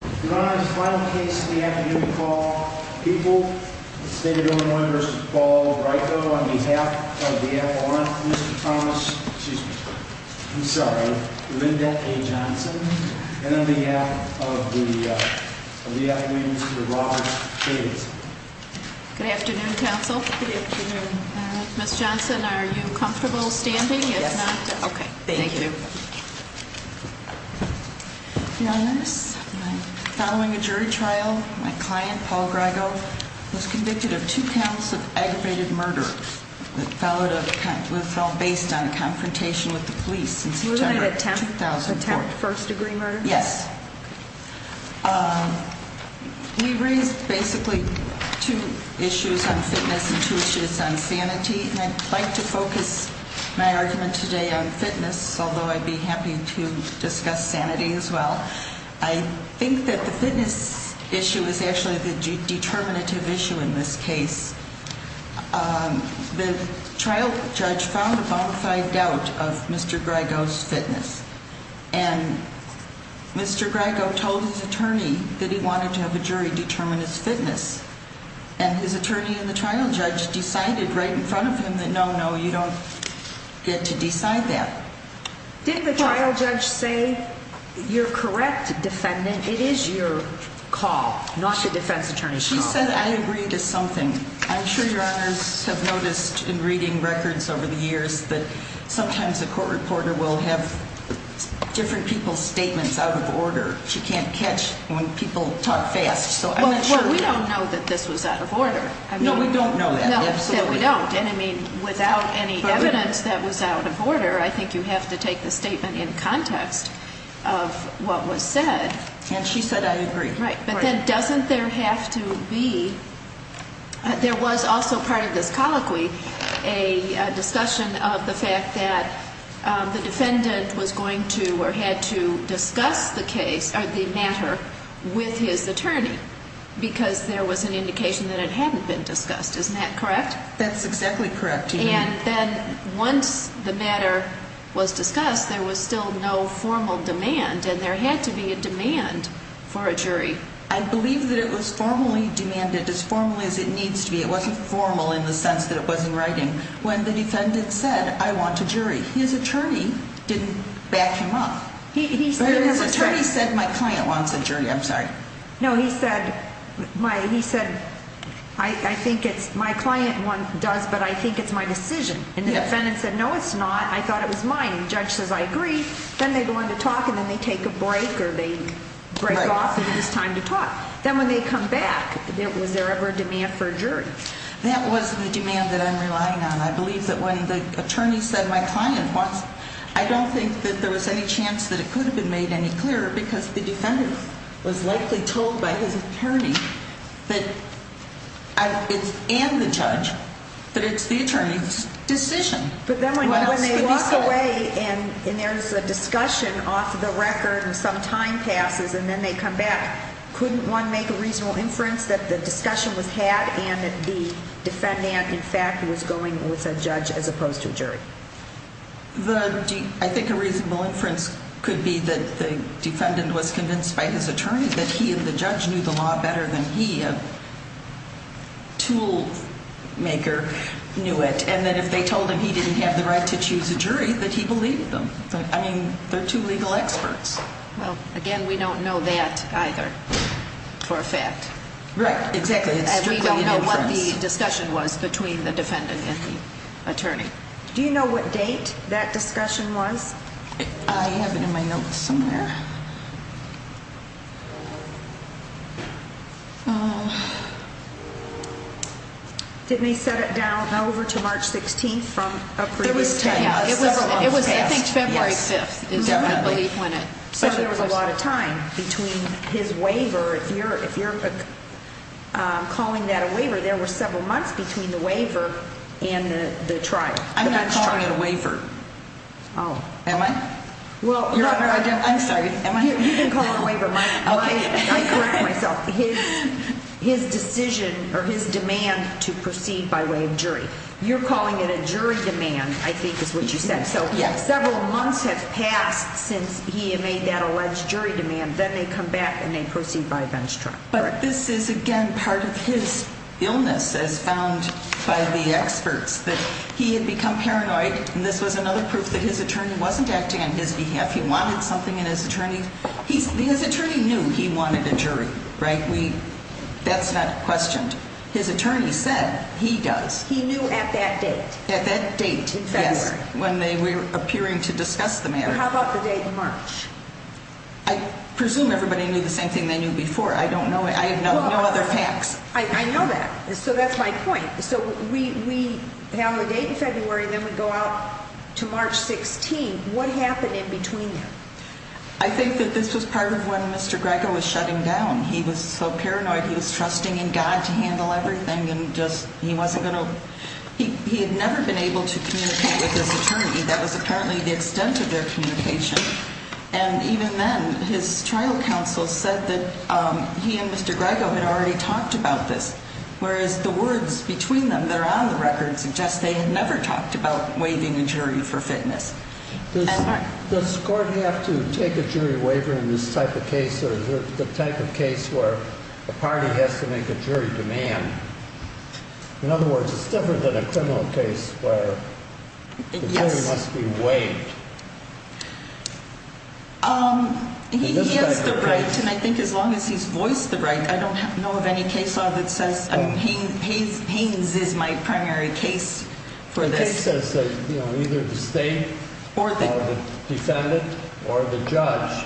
Mr. Thomas, excuse me, I'm sorry, Linda A. Johnson and on behalf of the, uh, of the Academy, Mr. Robert Davidson. Good afternoon, counsel. Good afternoon. Ms. Johnson, are you comfortable standing? Yes. Okay, thank you. Your Honor, following a jury trial, my client, Paul Grygo, was convicted of two counts of aggravated murder that followed a, based on a confrontation with the police in September of 2004. Was it an attempt, first degree murder? Yes. Um, we raised basically two issues on fitness and two issues on sanity, and I'd like to focus my argument today on fitness, although I'd be happy to discuss sanity as well. I think that the fitness issue is actually the determinative issue in this case. Um, the trial judge found a bonafide doubt of Mr. Grygo's fitness, and Mr. Grygo told his attorney that he wanted to have a jury determine his fitness, and his attorney and the trial judge decided right in front of him that no, no, you don't get to decide that. Did the trial judge say, you're correct, defendant, it is your call, not the defense attorney's call? She said, I agree to something. I'm sure Your Honors have noticed in reading records over the years that sometimes a court reporter will have different people's statements out of order. She can't catch when people talk fast, so I'm not sure. Well, we don't know that this was out of order. No, we don't know that, absolutely. No, we don't, and I mean, without any evidence that was out of order, I think you have to take the statement in context of what was said. And she said, I agree. Right, but then doesn't there have to be, there was also part of this colloquy, a discussion of the fact that the defendant was going to or had to discuss the case, or the matter, with his attorney, because there was an indication that it hadn't been discussed. Isn't that correct? That's exactly correct. And then once the matter was discussed, there was still no formal demand, and there had to be a demand for a jury. I believe that it was formally demanded, as formally as it needs to be. It wasn't formal in the sense that it was in writing. When the defendant said, I want a jury, his attorney didn't back him up. His attorney said, my client wants a jury. I'm sorry. No, he said, I think it's my client does, but I think it's my decision. And the defendant said, no, it's not. I thought it was mine. The judge says, I agree. Then they go into talk, and then they take a break, or they break off, and it's time to talk. Then when they come back, was there ever a demand for a jury? That was the demand that I'm relying on. I believe that when the attorney said, my client wants, I don't think that there was any chance that it could have been made any clearer, because the defendant was likely told by his attorney and the judge that it's the attorney's decision. But then when they walk away, and there's a discussion off the record, and some time passes, and then they come back, couldn't one make a reasonable inference that the discussion was had and that the defendant, in fact, was going with a judge as opposed to a jury? I think a reasonable inference could be that the defendant was convinced by his attorney that he and the judge knew the law better than he, a tool maker, knew it. And that if they told him he didn't have the right to choose a jury, that he believed them. I mean, they're two legal experts. Well, again, we don't know that either, for a fact. Right, exactly. And we don't know what the discussion was between the defendant and the attorney. Do you know what date that discussion was? I have it in my notes somewhere. Didn't they set it down over to March 16th from a previous time? It was, I think, February 5th. So there was a lot of time between his waiver. If you're calling that a waiver, there were several months between the waiver and the trial. I'm not calling it a waiver. Oh. Am I? I'm sorry. You can call it a waiver. I correct myself. His decision or his demand to proceed by way of jury. You're calling it a jury demand, I think is what you said. Yes. So several months have passed since he made that alleged jury demand. Then they come back and they proceed by bench trial. But this is, again, part of his illness, as found by the experts, that he had become paranoid. And this was another proof that his attorney wasn't acting on his behalf. He wanted something in his attorney. His attorney knew he wanted a jury, right? That's not questioned. His attorney said he does. He knew at that date. At that date in February. Yes, when they were appearing to discuss the matter. How about the date in March? I presume everybody knew the same thing they knew before. I don't know. I have no other facts. I know that. So that's my point. So we have a date in February, then we go out to March 16th. What happened in between then? I think that this was part of when Mr. Greco was shutting down. He was so paranoid he was trusting in God to handle everything. He had never been able to communicate with his attorney. That was apparently the extent of their communication. And even then, his trial counsel said that he and Mr. Greco had already talked about this. Whereas the words between them that are on the record suggest they had never talked about waiving a jury for fitness. Does the court have to take a jury waiver in this type of case? Or is it the type of case where a party has to make a jury demand? In other words, it's different than a criminal case where the jury must be waived. He has the right, and I think as long as he's voiced the right. I don't know of any case law that says pains is my primary case for this. I think it says that either the state or the defendant or the judge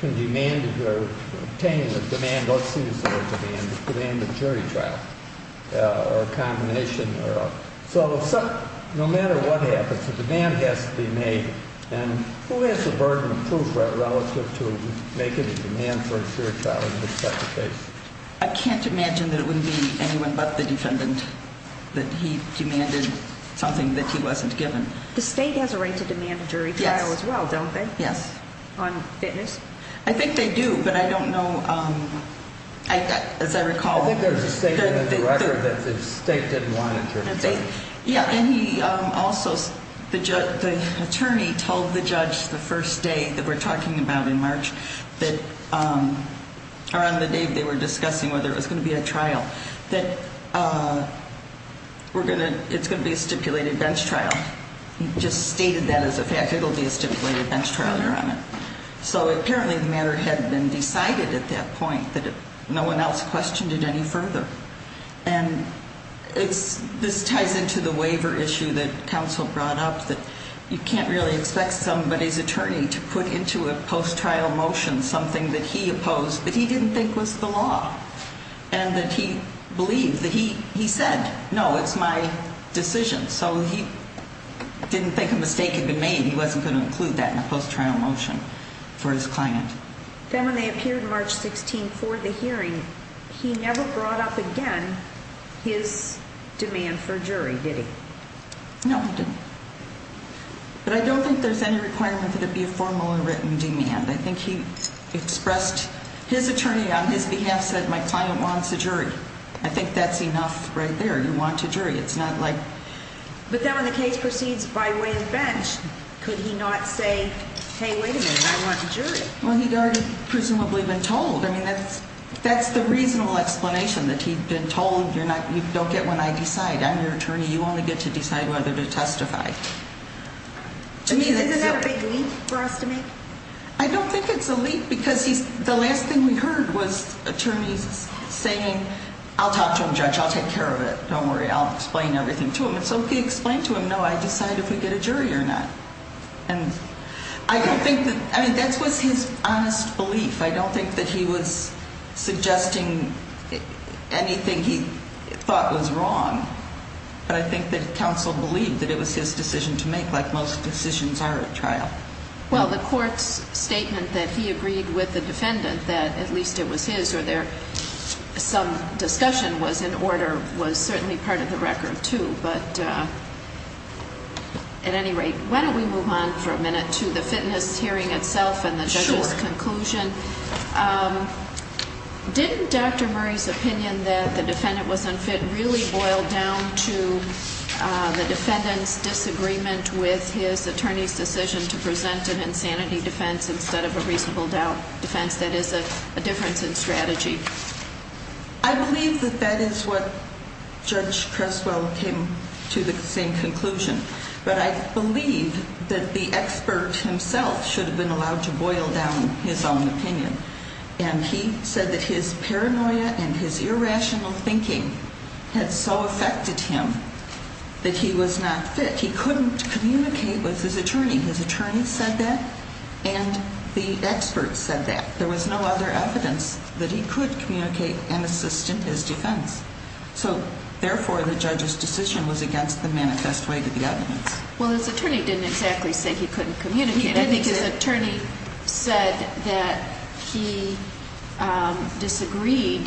can demand or obtain a demand. Let's see if it's a demand. It's a demand of a jury trial or a combination. So no matter what happens, a demand has to be made. And who has the burden of proof relative to making a demand for a jury trial in this type of case? I can't imagine that it would be anyone but the defendant that he demanded something that he wasn't given. The state has a right to demand a jury trial as well, don't they? Yes. On fitness? I think they do, but I don't know. As I recall. I think there's a statement in the record that the state didn't want a jury trial. Yeah, and he also, the attorney told the judge the first day that we're talking about in March that around the day they were discussing whether it was going to be a trial, that it's going to be a stipulated bench trial. He just stated that as a fact. It'll be a stipulated bench trial. So apparently the matter had been decided at that point that no one else questioned it any further. And this ties into the waiver issue that counsel brought up that you can't really expect somebody's attorney to put into a post-trial motion something that he opposed that he didn't think was the law. And that he believed that he said, no, it's my decision. So he didn't think a mistake had been made. He wasn't going to include that in a post-trial motion for his client. Then when they appeared March 16 for the hearing, he never brought up again his demand for jury, did he? No, he didn't. But I don't think there's any requirement for it to be a formal and written demand. I think he expressed his attorney on his behalf said my client wants a jury. I think that's enough right there. You want a jury. It's not like. But then when the case proceeds by way of bench, could he not say, hey, wait a minute, I want a jury? Well, he'd already presumably been told. I mean, that's that's the reasonable explanation that he'd been told. You're not you don't get when I decide. I'm your attorney. You only get to decide whether to testify to me. That's a big leap for us to make. I don't think it's a leap because he's the last thing we heard was attorneys saying, I'll talk to him. Judge, I'll take care of it. Don't worry. I'll explain everything to him. And so he explained to him. No, I decide if we get a jury or not. And I don't think that I mean, that was his honest belief. I don't think that he was suggesting anything he thought was wrong. But I think that counsel believed that it was his decision to make. Like most decisions are a trial. Well, the court's statement that he agreed with the defendant that at least it was his or there. Some discussion was in order was certainly part of the record, too. But at any rate, why don't we move on for a minute to the fitness hearing itself and the judge's conclusion? Didn't Dr. Murray's opinion that the defendant was unfit really boil down to the defendant's disagreement with his attorney's decision to present an insanity defense instead of a reasonable doubt defense? That is a difference in strategy. I believe that that is what Judge Creswell came to the same conclusion. But I believe that the expert himself should have been allowed to boil down his own opinion. And he said that his paranoia and his irrational thinking had so affected him that he was not fit. He couldn't communicate with his attorney. His attorney said that and the experts said that. There was no other evidence that he could communicate and assist in his defense. So, therefore, the judge's decision was against the manifest way to the evidence. Well, his attorney didn't exactly say he couldn't communicate. I think his attorney said that he disagreed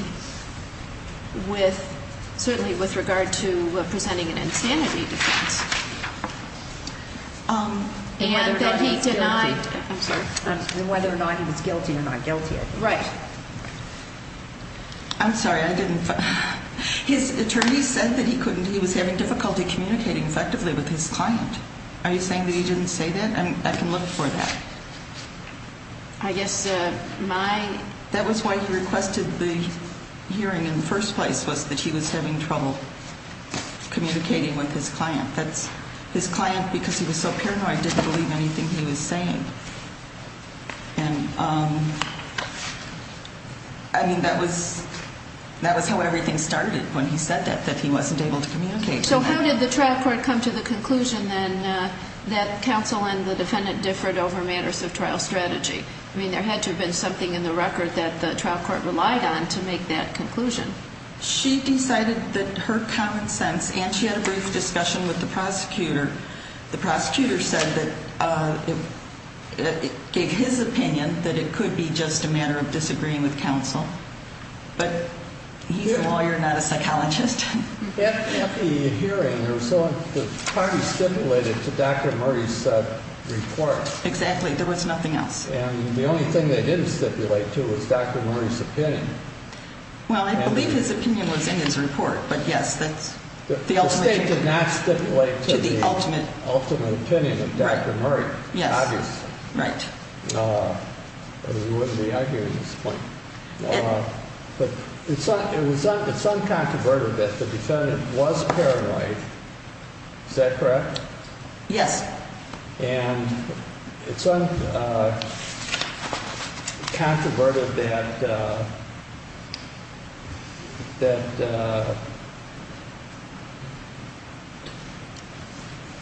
with certainly with regard to presenting an insanity defense. And that he denied whether or not he was guilty or not guilty. Right. I'm sorry. I didn't. His attorney said that he couldn't. He was having difficulty communicating effectively with his client. Are you saying that he didn't say that? I can look for that. I guess my that was why he requested the hearing in the first place was that he was having trouble communicating with his client. His client, because he was so paranoid, didn't believe anything he was saying. And, I mean, that was how everything started when he said that, that he wasn't able to communicate. So how did the trial court come to the conclusion then that counsel and the defendant differed over matters of trial strategy? I mean, there had to have been something in the record that the trial court relied on to make that conclusion. She decided that her common sense, and she had a brief discussion with the prosecutor. The prosecutor said that it gave his opinion that it could be just a matter of disagreeing with counsel. But he's a lawyer, not a psychologist. At the hearing, the party stipulated to Dr. Murray's report. Exactly. There was nothing else. And the only thing they didn't stipulate to was Dr. Murray's opinion. Well, I believe his opinion was in his report. But, yes, that's the ultimate opinion. The state did not stipulate to the ultimate opinion of Dr. Murray. Yes. Obviously. Right. We wouldn't be arguing at this point. But it's uncontroverted that the defendant was paranoid. Is that correct? Yes. And it's uncontroverted that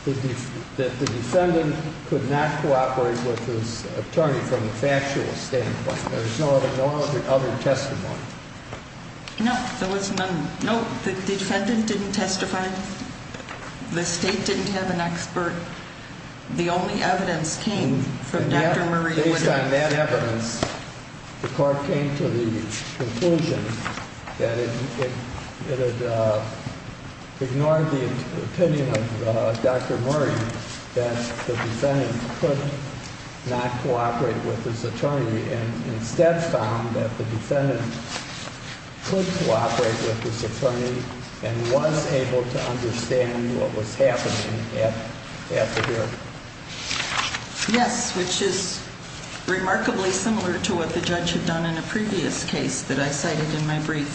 the defendant could not cooperate with his attorney from the factual standpoint. There's no other testimony. No, there was none. No, the defendant didn't testify. The state didn't have an expert. The only evidence came from Dr. Murray's witness. Based on that evidence, the court came to the conclusion that it had ignored the opinion of Dr. Murray, that the defendant could not cooperate with his attorney, and instead found that the defendant could cooperate with his attorney and was able to understand what was happening at the hearing. Yes, which is remarkably similar to what the judge had done in a previous case that I cited in my brief,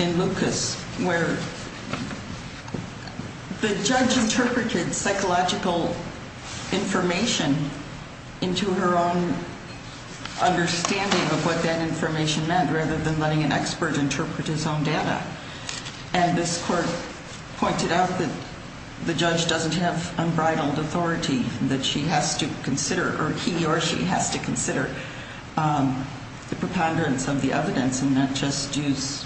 in Lucas, where the judge interpreted psychological information into her own understanding of what that information meant rather than letting an expert interpret his own data. And this court pointed out that the judge doesn't have unbridled authority, that she has to consider, or he or she has to consider the preponderance of the evidence and not just use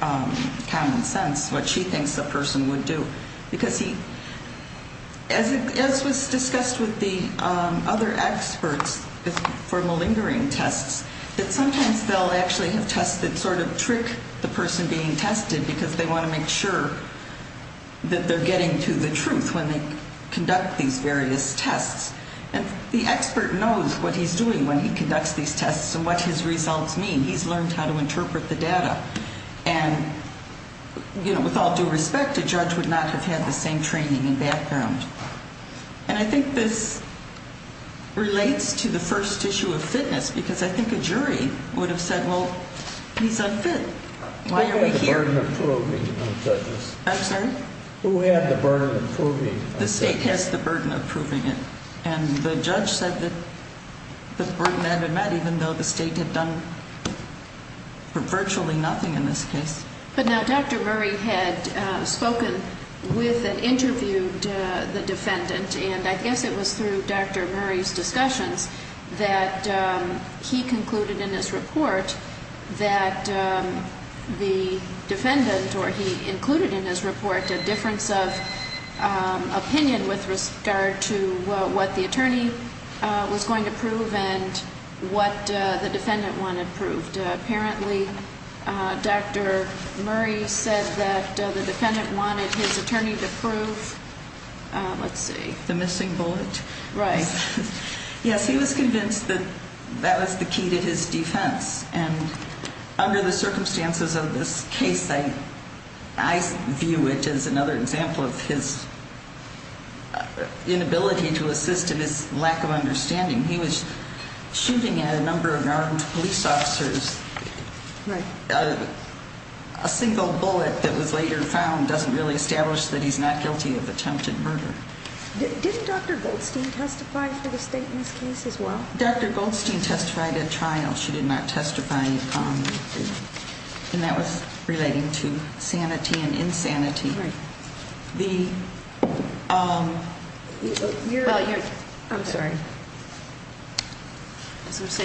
common sense, what she thinks the person would do. Because he, as was discussed with the other experts for malingering tests, that sometimes they'll actually have tests that sort of trick the person being tested because they want to make sure that they're getting to the truth when they conduct these various tests. And the expert knows what he's doing when he conducts these tests and what his results mean. He's learned how to interpret the data. And, you know, with all due respect, a judge would not have had the same training and background. And I think this relates to the first issue of fitness, because I think a jury would have said, well, he's unfit. Why are we here? Who had the burden of proving it? I'm sorry? Who had the burden of proving it? The state has the burden of proving it. And the judge said that the burden had been met even though the state had done virtually nothing in this case. But now Dr. Murray had spoken with and interviewed the defendant, and I guess it was through Dr. Murray's discussions that he concluded in his report that the defendant, or he included in his report a difference of opinion with regard to what the attorney was going to prove and what the defendant wanted proved. And apparently Dr. Murray said that the defendant wanted his attorney to prove, let's see. The missing bullet. Right. Yes, he was convinced that that was the key to his defense. And under the circumstances of this case, I view it as another example of his inability to assist in his lack of understanding. He was shooting at a number of armed police officers. Right. A single bullet that was later found doesn't really establish that he's not guilty of attempted murder. Didn't Dr. Goldstein testify for the state in this case as well? Dr. Goldstein testified at trial. She did not testify in common. And that was relating to sanity and insanity. Right.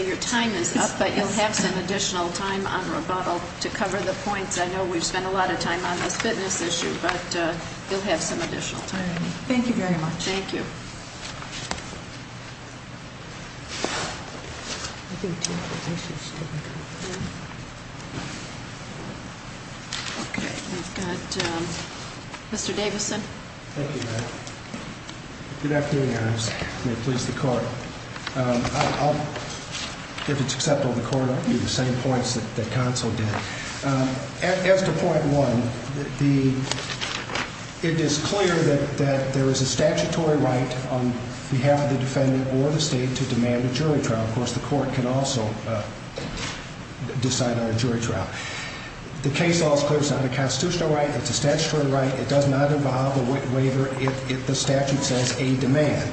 Your time is up, but you'll have some additional time on rebuttal to cover the points. I know we've spent a lot of time on this fitness issue, but you'll have some additional time. Thank you very much. Thank you. Okay. We've got Mr. Davison. Thank you, ma'am. Good afternoon, Your Honor. May it please the Court. I'll, if it's acceptable to the Court, I'll give you the same points that counsel did. As to point one, it is clear that there is a statutory right on the basis of the statute of limitations, on behalf of the defendant or the state, to demand a jury trial. Of course, the Court can also decide on a jury trial. The case law is clear. It's not a constitutional right. It's a statutory right. It does not involve a waiver if the statute says a demand.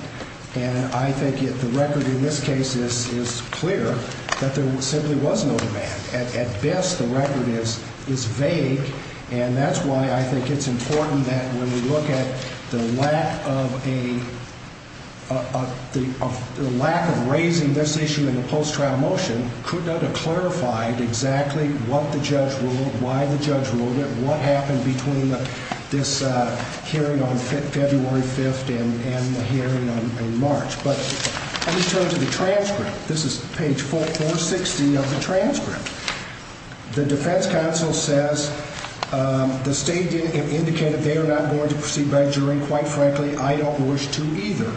And I think the record in this case is clear that there simply was no demand. At best, the record is vague. And that's why I think it's important that when we look at the lack of raising this issue in the post-trial motion, could not have clarified exactly what the judge ruled, why the judge ruled it, what happened between this hearing on February 5th and the hearing in March. But let me turn to the transcript. This is page 460 of the transcript. The defense counsel says the state indicated they are not going to proceed by jury. Quite frankly, I don't wish to either.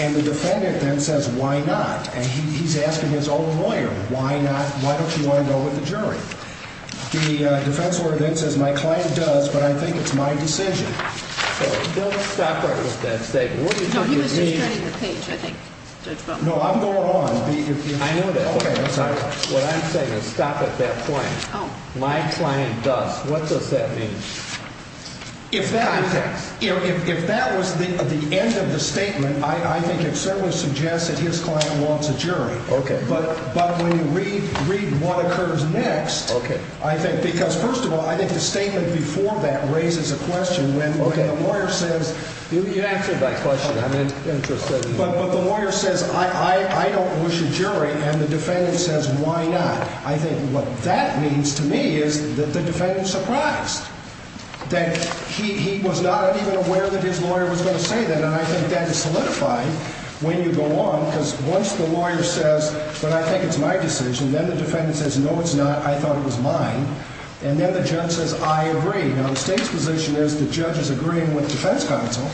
And the defendant then says, why not? And he's asking his own lawyer, why not? Why don't you want to go with the jury? The defense lawyer then says, my client does, but I think it's my decision. So don't stop there with that statement. No, he was just turning the page, I think, Judge Bowman. No, I'm going on. What I'm saying is stop at that point. My client does. What does that mean? If that was the end of the statement, I think it certainly suggests that his client wants a jury. But when you read what occurs next, I think because first of all, I think the statement before that raises a question. When the lawyer says, you answered my question. I'm interested in that. But the lawyer says, I don't wish a jury. And the defendant says, why not? I think what that means to me is that the defendant is surprised that he was not even aware that his lawyer was going to say that. And I think that is solidified when you go on. Because once the lawyer says, but I think it's my decision, then the defendant says, no, it's not. I thought it was mine. And then the judge says, I agree. Now, the state's position is the judge is agreeing with the defense counsel.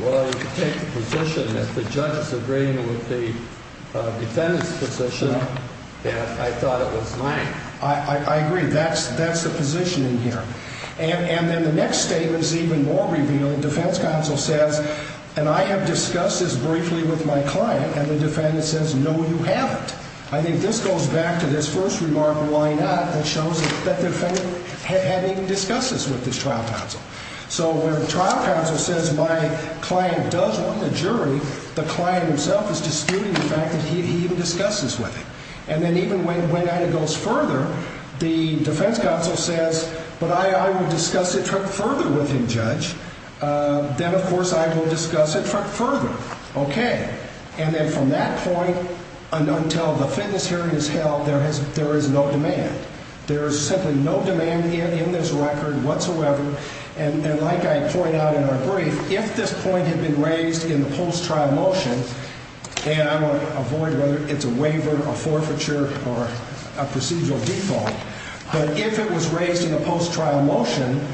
Well, you can take the position that the judge is agreeing with the defendant's position that I thought it was mine. I agree. That's the position in here. And then the next statement is even more revealing. Defense counsel says, and I have discussed this briefly with my client. And the defendant says, no, you haven't. I think this goes back to this first remark, why not, that shows that the defendant hadn't even discussed this with his trial counsel. So when the trial counsel says my client does want the jury, the client himself is disputing the fact that he even discussed this with him. And then even when it goes further, the defense counsel says, but I will discuss it further with him, judge. Then, of course, I will discuss it further. Okay. And then from that point until the fitness hearing is held, there is no demand. There is simply no demand in this record whatsoever. And like I point out in our brief, if this point had been raised in the post-trial motion, and I want to avoid whether it's a waiver, a forfeiture, or a procedural default. But if it was raised in a post-trial motion,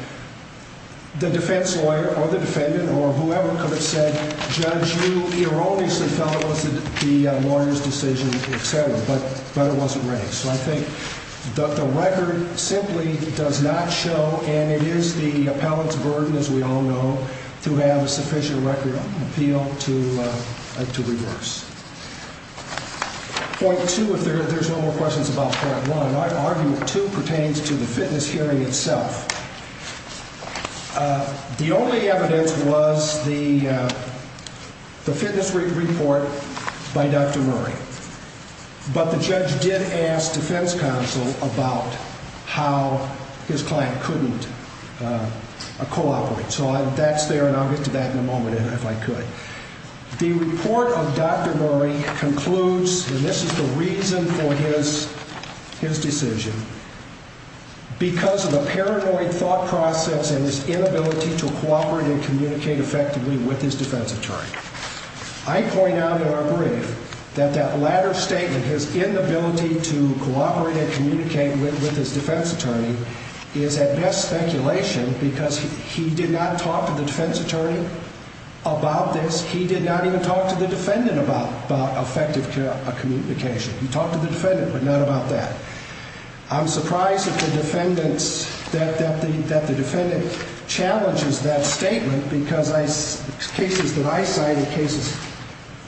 the defense lawyer or the defendant or whoever could have said, judge, you erroneously felt it was the lawyer's decision, et cetera. But it wasn't raised. So I think the record simply does not show, and it is the appellate's burden, as we all know, to have a sufficient record of appeal to reverse. Point two, if there's no more questions about point one. I argue two pertains to the fitness hearing itself. The only evidence was the fitness report by Dr. Murray. But the judge did ask defense counsel about how his client couldn't cooperate. So that's there, and I'll get to that in a moment if I could. The report of Dr. Murray concludes, and this is the reason for his decision, because of a paranoid thought process and his inability to cooperate and communicate effectively with his defense attorney. I point out in our brief that that latter statement, his inability to cooperate and communicate with his defense attorney, is at best speculation because he did not talk to the defense attorney about this. He did not even talk to the defendant about effective communication. He talked to the defendant, but not about that. I'm surprised that the defendant challenges that statement because cases that I cite and cases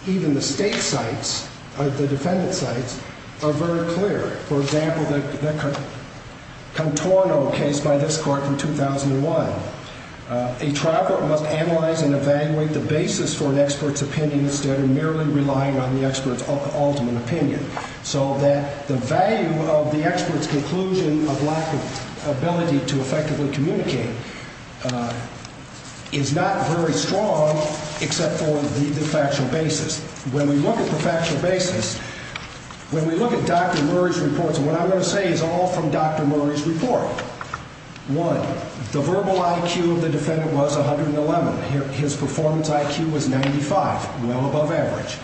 even the state cites or the defendant cites are very clear. For example, the Contorno case by this court in 2001. A trial court must analyze and evaluate the basis for an expert's opinion instead of merely relying on the expert's ultimate opinion. So that the value of the expert's conclusion of lack of ability to effectively communicate is not very strong except for the factual basis. When we look at the factual basis, when we look at Dr. Murray's reports, what I'm going to say is all from Dr. Murray's report. One, the verbal IQ of the defendant was 111. His performance IQ was 95, well above average.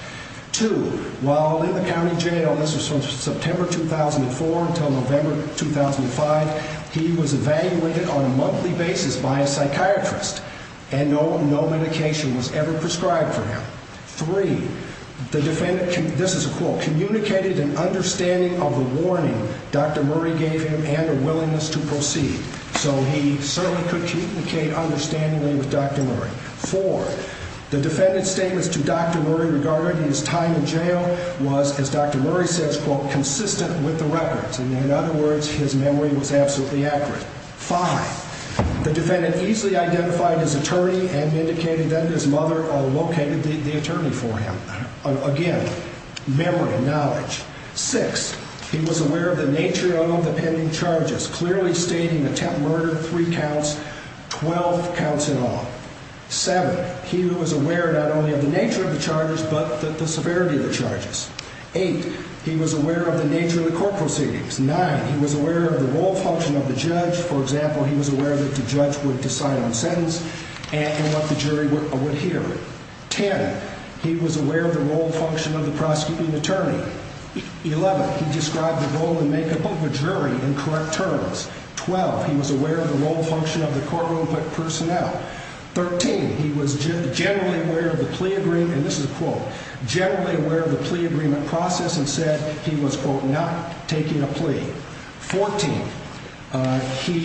Two, while in the county jail, this was from September 2004 until November 2005, he was evaluated on a monthly basis by a psychiatrist. And no medication was ever prescribed for him. Three, the defendant, this is a quote, communicated an understanding of the warning Dr. Murray gave him and a willingness to proceed. So he certainly could communicate understandably with Dr. Murray. Four, the defendant's statements to Dr. Murray regarding his time in jail was, as Dr. Murray says, quote, consistent with the records. And in other words, his memory was absolutely accurate. Five, the defendant easily identified his attorney and indicated that his mother located the attorney for him. Again, memory, knowledge. Six, he was aware of the nature of the pending charges, clearly stating attempt murder, three counts, 12 counts in all. Seven, he was aware not only of the nature of the charges but the severity of the charges. Eight, he was aware of the nature of the court proceedings. Nine, he was aware of the role function of the judge. For example, he was aware that the judge would decide on a sentence and what the jury would hear. Ten, he was aware of the role function of the prosecuting attorney. Eleven, he described the role and makeup of a jury in correct terms. Twelve, he was aware of the role function of the courtroom personnel. Thirteen, he was generally aware of the plea agreement, and this is a quote, generally aware of the plea agreement process and said he was, quote, not taking a plea. Fourteen,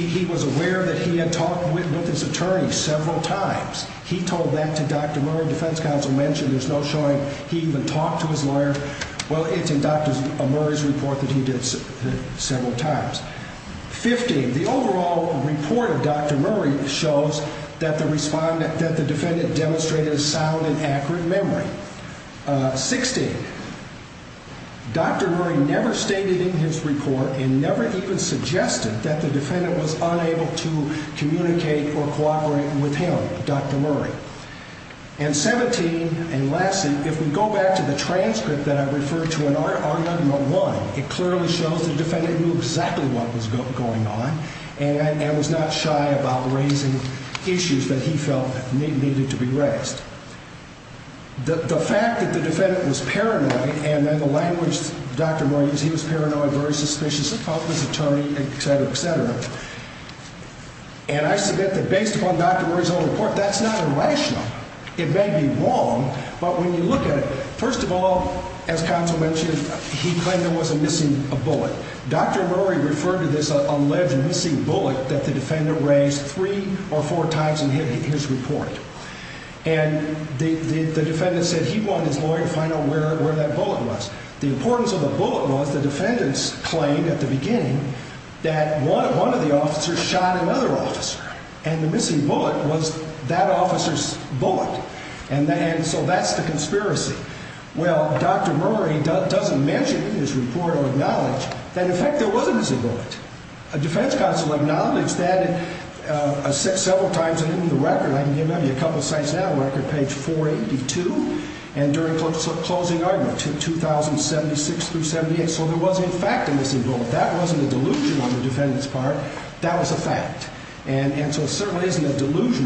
he was aware that he had talked with his attorney several times. He told that to Dr. Murray. Defense counsel mentioned there's no showing he even talked to his lawyer. Well, it's in Dr. Murray's report that he did several times. Fifteen, the overall report of Dr. Murray shows that the defendant demonstrated a sound and accurate memory. Sixteen, Dr. Murray never stated in his report and never even suggested that the defendant was unable to communicate or cooperate with him, Dr. Murray. And seventeen, and lastly, if we go back to the transcript that I referred to in R001, it clearly shows the defendant knew exactly what was going on and was not shy about raising issues that he felt needed to be raised. The fact that the defendant was paranoid and then the language Dr. Murray used, he was paranoid, very suspicious of his attorney, et cetera, et cetera. And I suggest that based upon Dr. Murray's own report, that's not irrational. It may be wrong, but when you look at it, first of all, as counsel mentioned, he claimed there was a missing bullet. Dr. Murray referred to this alleged missing bullet that the defendant raised three or four times in his report. And the defendant said he wanted his lawyer to find out where that bullet was. The importance of the bullet was the defendant's claim at the beginning that one of the officers shot another officer. And the missing bullet was that officer's bullet. And so that's the conspiracy. Well, Dr. Murray doesn't mention in his report or acknowledge that, in fact, there was a missing bullet. A defense counsel acknowledged that several times in the record. I can give you a couple of sites now, record page 482 and during closing argument, 2076 through 78. So there was, in fact, a missing bullet. That wasn't a delusion on the defendant's part. That was a fact. And so it certainly isn't a delusion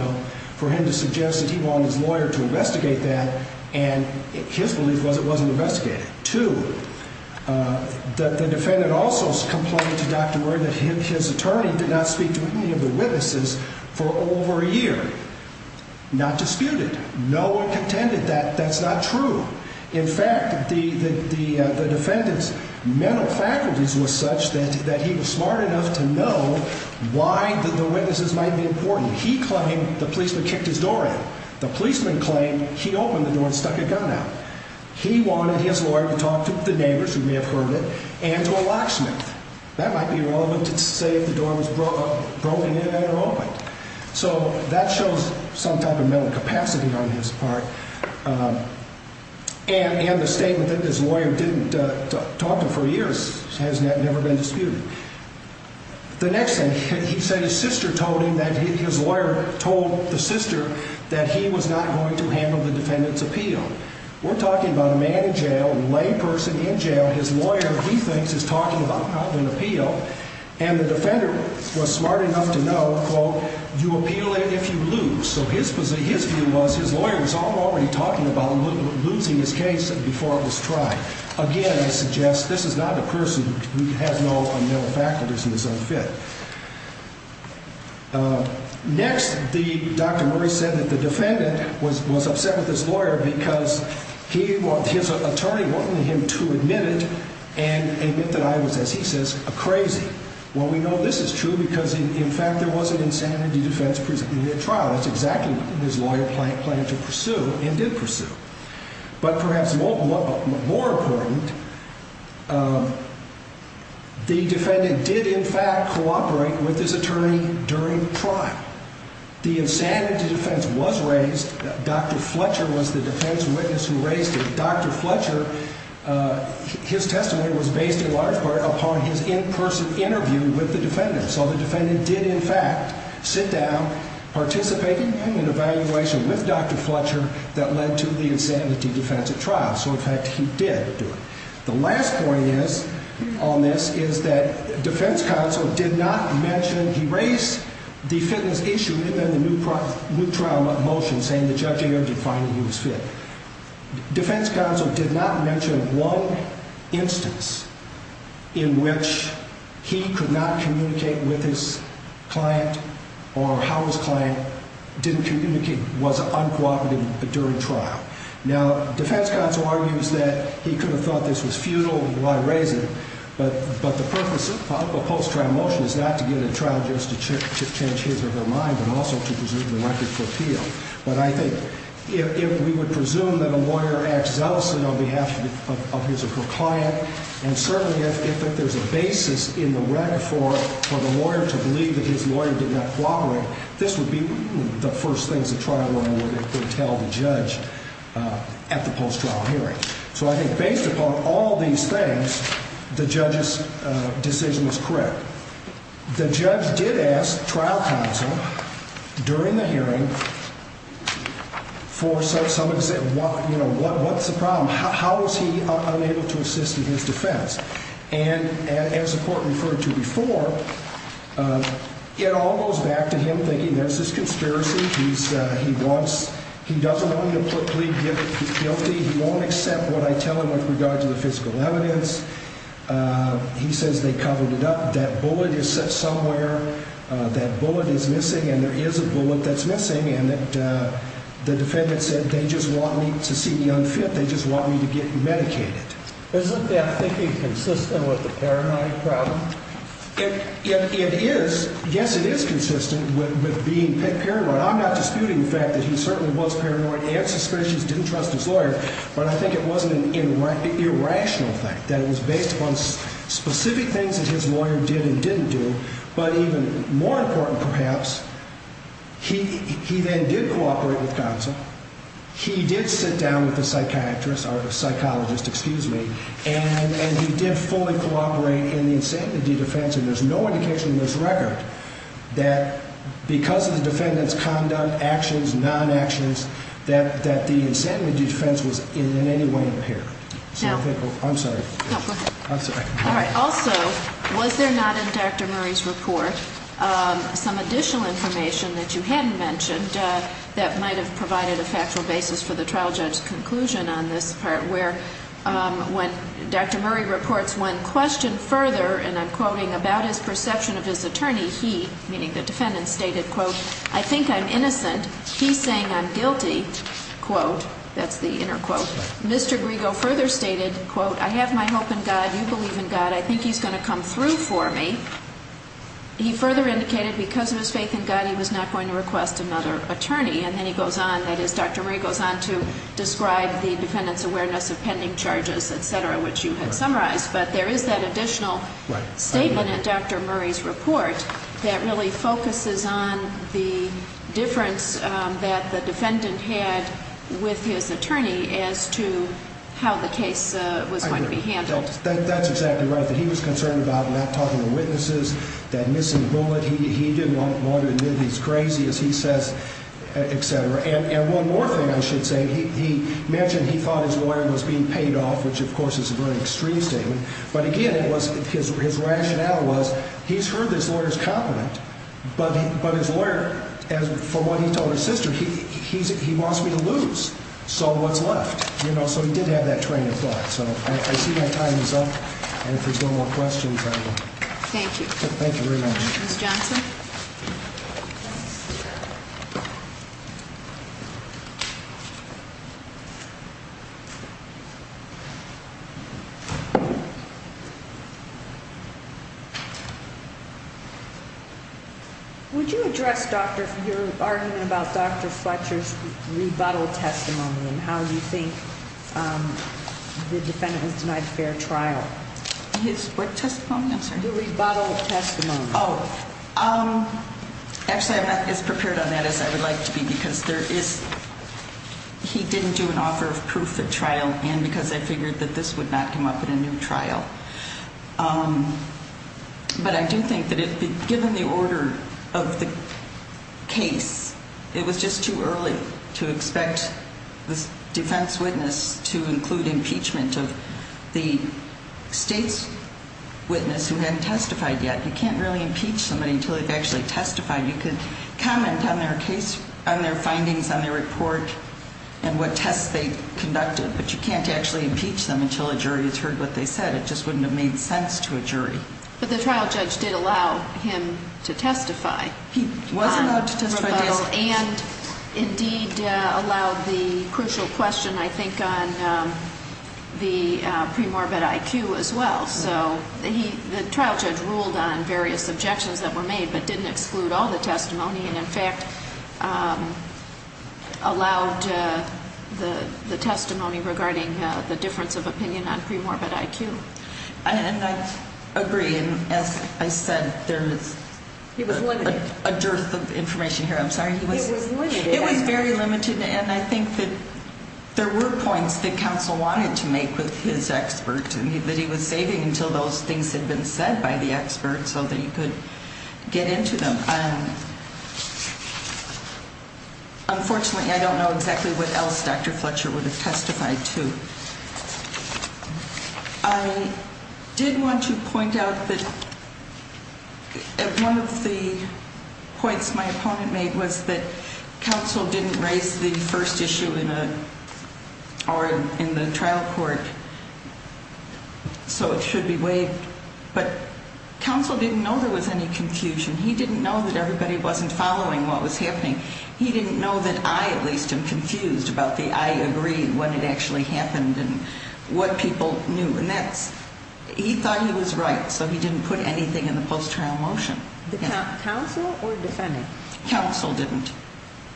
for him to suggest that he wanted his lawyer to investigate that. And his belief was it wasn't investigated. Two, that the defendant also complained to Dr. Murray that his attorney did not speak to any of the witnesses for over a year. Not disputed. No one contended that that's not true. In fact, the defendant's mental faculties was such that he was smart enough to know why the witnesses might be important. He claimed the policeman kicked his door in. The policeman claimed he opened the door and stuck a gun out. He wanted his lawyer to talk to the neighbors who may have heard it and to a locksmith. That might be relevant to say if the door was broken in and opened. So that shows some type of mental capacity on his part. And the statement that his lawyer didn't talk to him for years has never been disputed. The next thing, he said his sister told him that his lawyer told the sister that he was not going to handle the defendant's appeal. We're talking about a man in jail, a lay person in jail. His lawyer, he thinks, is talking about having an appeal. And the defender was smart enough to know, quote, you appeal it if you lose. So his view was his lawyer was already talking about losing his case before it was tried. Again, I suggest this is not a person who has no mental faculties and is unfit. Next, Dr. Murray said that the defendant was upset with his lawyer because his attorney wanted him to admit it and admit that I was, as he says, a crazy. Well, we know this is true because, in fact, there was an insanity defense in the trial. That's exactly what his lawyer planned to pursue and did pursue. But perhaps more important, the defendant did, in fact, cooperate with his attorney during the trial. The insanity defense was raised. Dr. Fletcher was the defense witness who raised it. Dr. Fletcher, his testimony was based in large part upon his in-person interview with the defendant. So the defendant did, in fact, sit down, participated in an evaluation with Dr. Fletcher that led to the insanity defense at trial. So, in fact, he did do it. The last point is, on this, is that defense counsel did not mention, he raised the fitness issue and then the new trial motion saying the judge ended up finding he was fit. Defense counsel did not mention one instance in which he could not communicate with his client or how his client didn't communicate, was uncooperative during trial. Now, defense counsel argues that he could have thought this was futile and why raise it. But the purpose of a post-trial motion is not to get a trial judge to change his or her mind but also to preserve the record for appeal. But I think if we would presume that a lawyer acts zealously on behalf of his or her client, and certainly if there's a basis in the record for the lawyer to believe that his lawyer did not cooperate, this would be the first things a trial lawyer would if they tell the judge at the post-trial hearing. So I think based upon all these things, the judge's decision is correct. The judge did ask trial counsel during the hearing for some, you know, what's the problem? How is he unable to assist in his defense? And as the court referred to before, it all goes back to him thinking there's this conspiracy. He wants, he doesn't want him to plead guilty. He won't accept what I tell him with regard to the physical evidence. He says they covered it up. That bullet is set somewhere. That bullet is missing. And there is a bullet that's missing. And the defendant said they just want me to see me unfit. They just want me to get medicated. Isn't that thinking consistent with the paranoid problem? It is. Yes, it is consistent with being paranoid. I'm not disputing the fact that he certainly was paranoid and suspicious, didn't trust his lawyer. But I think it wasn't an irrational thing, that it was based upon specific things that his lawyer did and didn't do. But even more important perhaps, he then did cooperate with counsel. He did sit down with a psychiatrist or a psychologist, excuse me, and he did fully cooperate in the insanity defense. And there's no indication in this record that because of the defendant's conduct, actions, non-actions, that the insanity defense was in any way impaired. I'm sorry. No, go ahead. I'm sorry. All right. Also, was there not in Dr. Murray's report some additional information that you hadn't mentioned that might have provided a factual basis for the trial judge's conclusion on this part? Where when Dr. Murray reports one question further, and I'm quoting, about his perception of his attorney, he, meaning the defendant, stated, quote, I think I'm innocent. He's saying I'm guilty. Quote, that's the inner quote. Mr. Griego further stated, quote, I have my hope in God. You believe in God. I think he's going to come through for me. He further indicated because of his faith in God, he was not going to request another attorney. And then he goes on, that is, Dr. Murray goes on to describe the defendant's awareness of pending charges, et cetera, which you had summarized. But there is that additional statement in Dr. Murray's report that really focuses on the difference that the defendant had with his attorney as to how the case was going to be handled. That's exactly right. I think he was concerned about not talking to witnesses, that missing bullet. He didn't want to admit he's crazy, as he says, et cetera. And one more thing I should say. He mentioned he thought his lawyer was being paid off, which, of course, is a very extreme statement. But, again, it was his rationale was he's heard this lawyer's compliment, but his lawyer, from what he told his sister, he wants me to lose. So what's left? You know, so he did have that train of thought. So I see my time is up. And if there's no more questions. Thank you. Thank you very much. Would you address your argument about Dr. Fletcher's rebuttal testimony and how you think the defendant was denied fair trial? His what testimony, I'm sorry? The rebuttal testimony. Oh, actually, I'm not as prepared on that as I would like to be, because there is he didn't do an offer of proof at trial. And because I figured that this would not come up in a new trial. But I do think that given the order of the case, it was just too early to expect this defense witness to include impeachment of the state's witness who hadn't testified yet. You can't really impeach somebody until they've actually testified. You could comment on their case, on their findings, on their report, and what tests they conducted. But you can't actually impeach them until a jury has heard what they said. It just wouldn't have made sense to a jury. But the trial judge did allow him to testify. He was allowed to testify. And indeed allowed the crucial question, I think, on the premorbid IQ as well. So the trial judge ruled on various objections that were made, but didn't exclude all the testimony. And, in fact, allowed the testimony regarding the difference of opinion on premorbid IQ. And I agree. And as I said, there is a dearth of information here. I'm sorry. It was limited. It was very limited. And I think that there were points that counsel wanted to make with his expert. And that he was saving until those things had been said by the expert so that he could get into them. Unfortunately, I don't know exactly what else Dr. Fletcher would have testified to. I did want to point out that one of the points my opponent made was that counsel didn't raise the first issue in the trial court. So it should be waived. But counsel didn't know there was any confusion. He didn't know that everybody wasn't following what was happening. He didn't know that I, at least, am confused about the I agree when it actually happened and what people knew. And that's he thought he was right. So he didn't put anything in the post-trial motion. Counsel or defendant? Counsel didn't.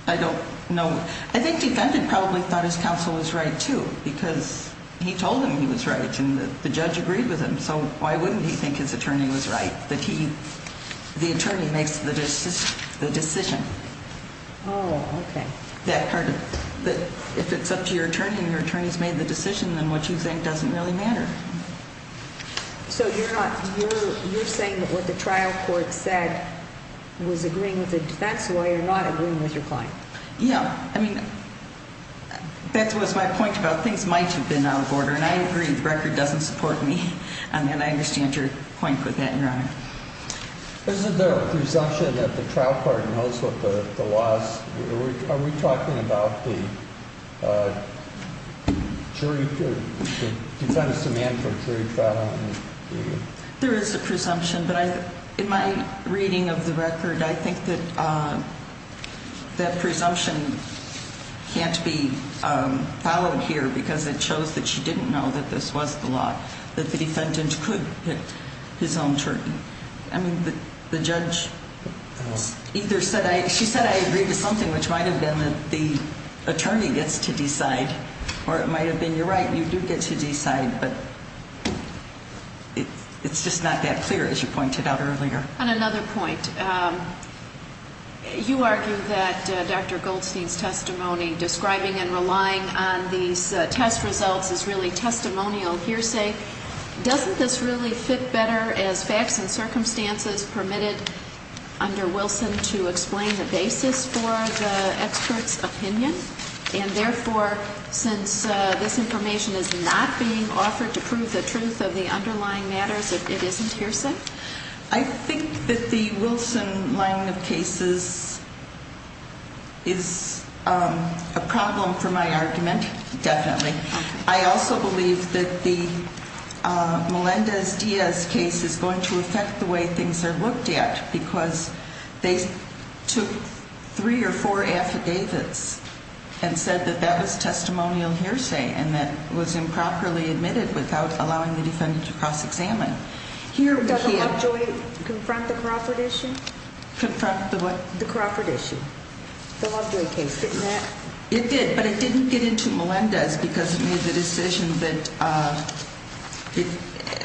I don't know. I think defendant probably thought his counsel was right, too, because he told him he was right and the judge agreed with him. So why wouldn't he think his attorney was right? The attorney makes the decision. Oh, okay. If it's up to your attorney and your attorney's made the decision, then what you think doesn't really matter. So you're saying that what the trial court said was agreeing with the defense lawyer, not agreeing with your client? Yeah. I mean, that was my point about things might have been out of order. And I agree. The record doesn't support me. And I understand your point with that, Your Honor. Isn't there a presumption that the trial court knows what the law is? Are we talking about the defense's demand for jury trial? There is a presumption, but in my reading of the record, I think that that presumption can't be followed here because it shows that she didn't know that this was the law, that the defendant could pick his own jury. I mean, the judge either said I agreed to something, which might have been that the attorney gets to decide, or it might have been you're right, you do get to decide, but it's just not that clear, as you pointed out earlier. On another point, you argue that Dr. Goldstein's testimony describing and relying on these test results is really testimonial hearsay. Doesn't this really fit better as facts and circumstances permitted under Wilson to explain the basis for the expert's opinion? And therefore, since this information is not being offered to prove the truth of the underlying matters, it isn't hearsay? I think that the Wilson line of cases is a problem for my argument, definitely. I also believe that the Melendez-Diaz case is going to affect the way things are looked at because they took three or four affidavits and said that that was testimonial hearsay and that was improperly admitted without allowing the defendant to cross-examine. Does the Lovejoy confront the Crawford issue? Confront the what? The Crawford issue. The Lovejoy case, didn't that? It did, but it didn't get into Melendez because it made the decision that,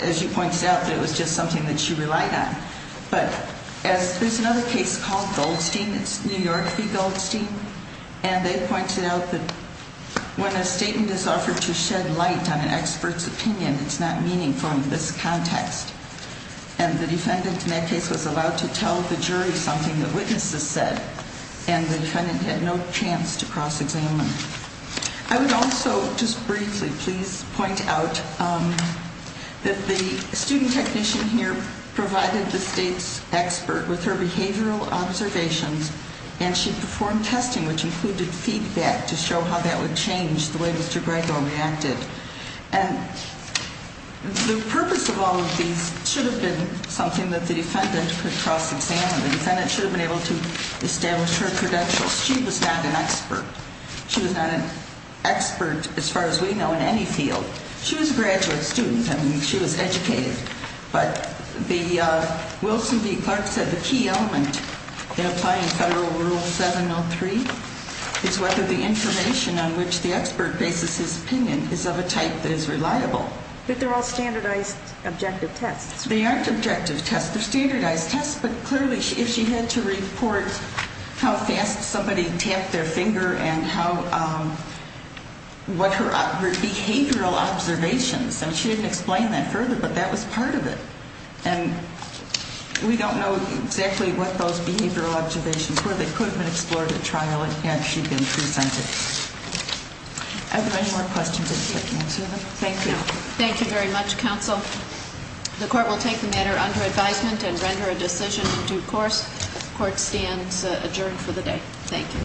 as you pointed out, that it was just something that she relied on. But there's another case called Goldstein. It's New York v. Goldstein, and they pointed out that when a statement is offered to shed light on an expert's opinion, it's not meaningful in this context. And the defendant in that case was allowed to tell the jury something the witnesses said, and the defendant had no chance to cross-examine. I would also just briefly please point out that the student technician here provided the state's expert with her behavioral observations, and she performed testing, which included feedback to show how that would change the way Mr. Grego reacted. And the purpose of all of these should have been something that the defendant could cross-examine. The defendant should have been able to establish her credentials. She was not an expert. She was not an expert as far as we know in any field. She was a graduate student. I mean, she was educated. But the Wilson v. Clark said the key element in applying Federal Rule 703 is whether the information on which the expert bases his opinion is of a type that is reliable. But they're all standardized objective tests. They aren't objective tests. They're standardized tests, but clearly if she had to report how fast somebody tapped their finger and what her behavioral observations, and she didn't explain that further, but that was part of it. And we don't know exactly what those behavioral observations were. The equipment explored at trial and had she been presented. Are there any more questions? Thank you. Thank you very much, counsel. The court will take the matter under advisement and render a decision in due course. The court stands adjourned for the day. Thank you.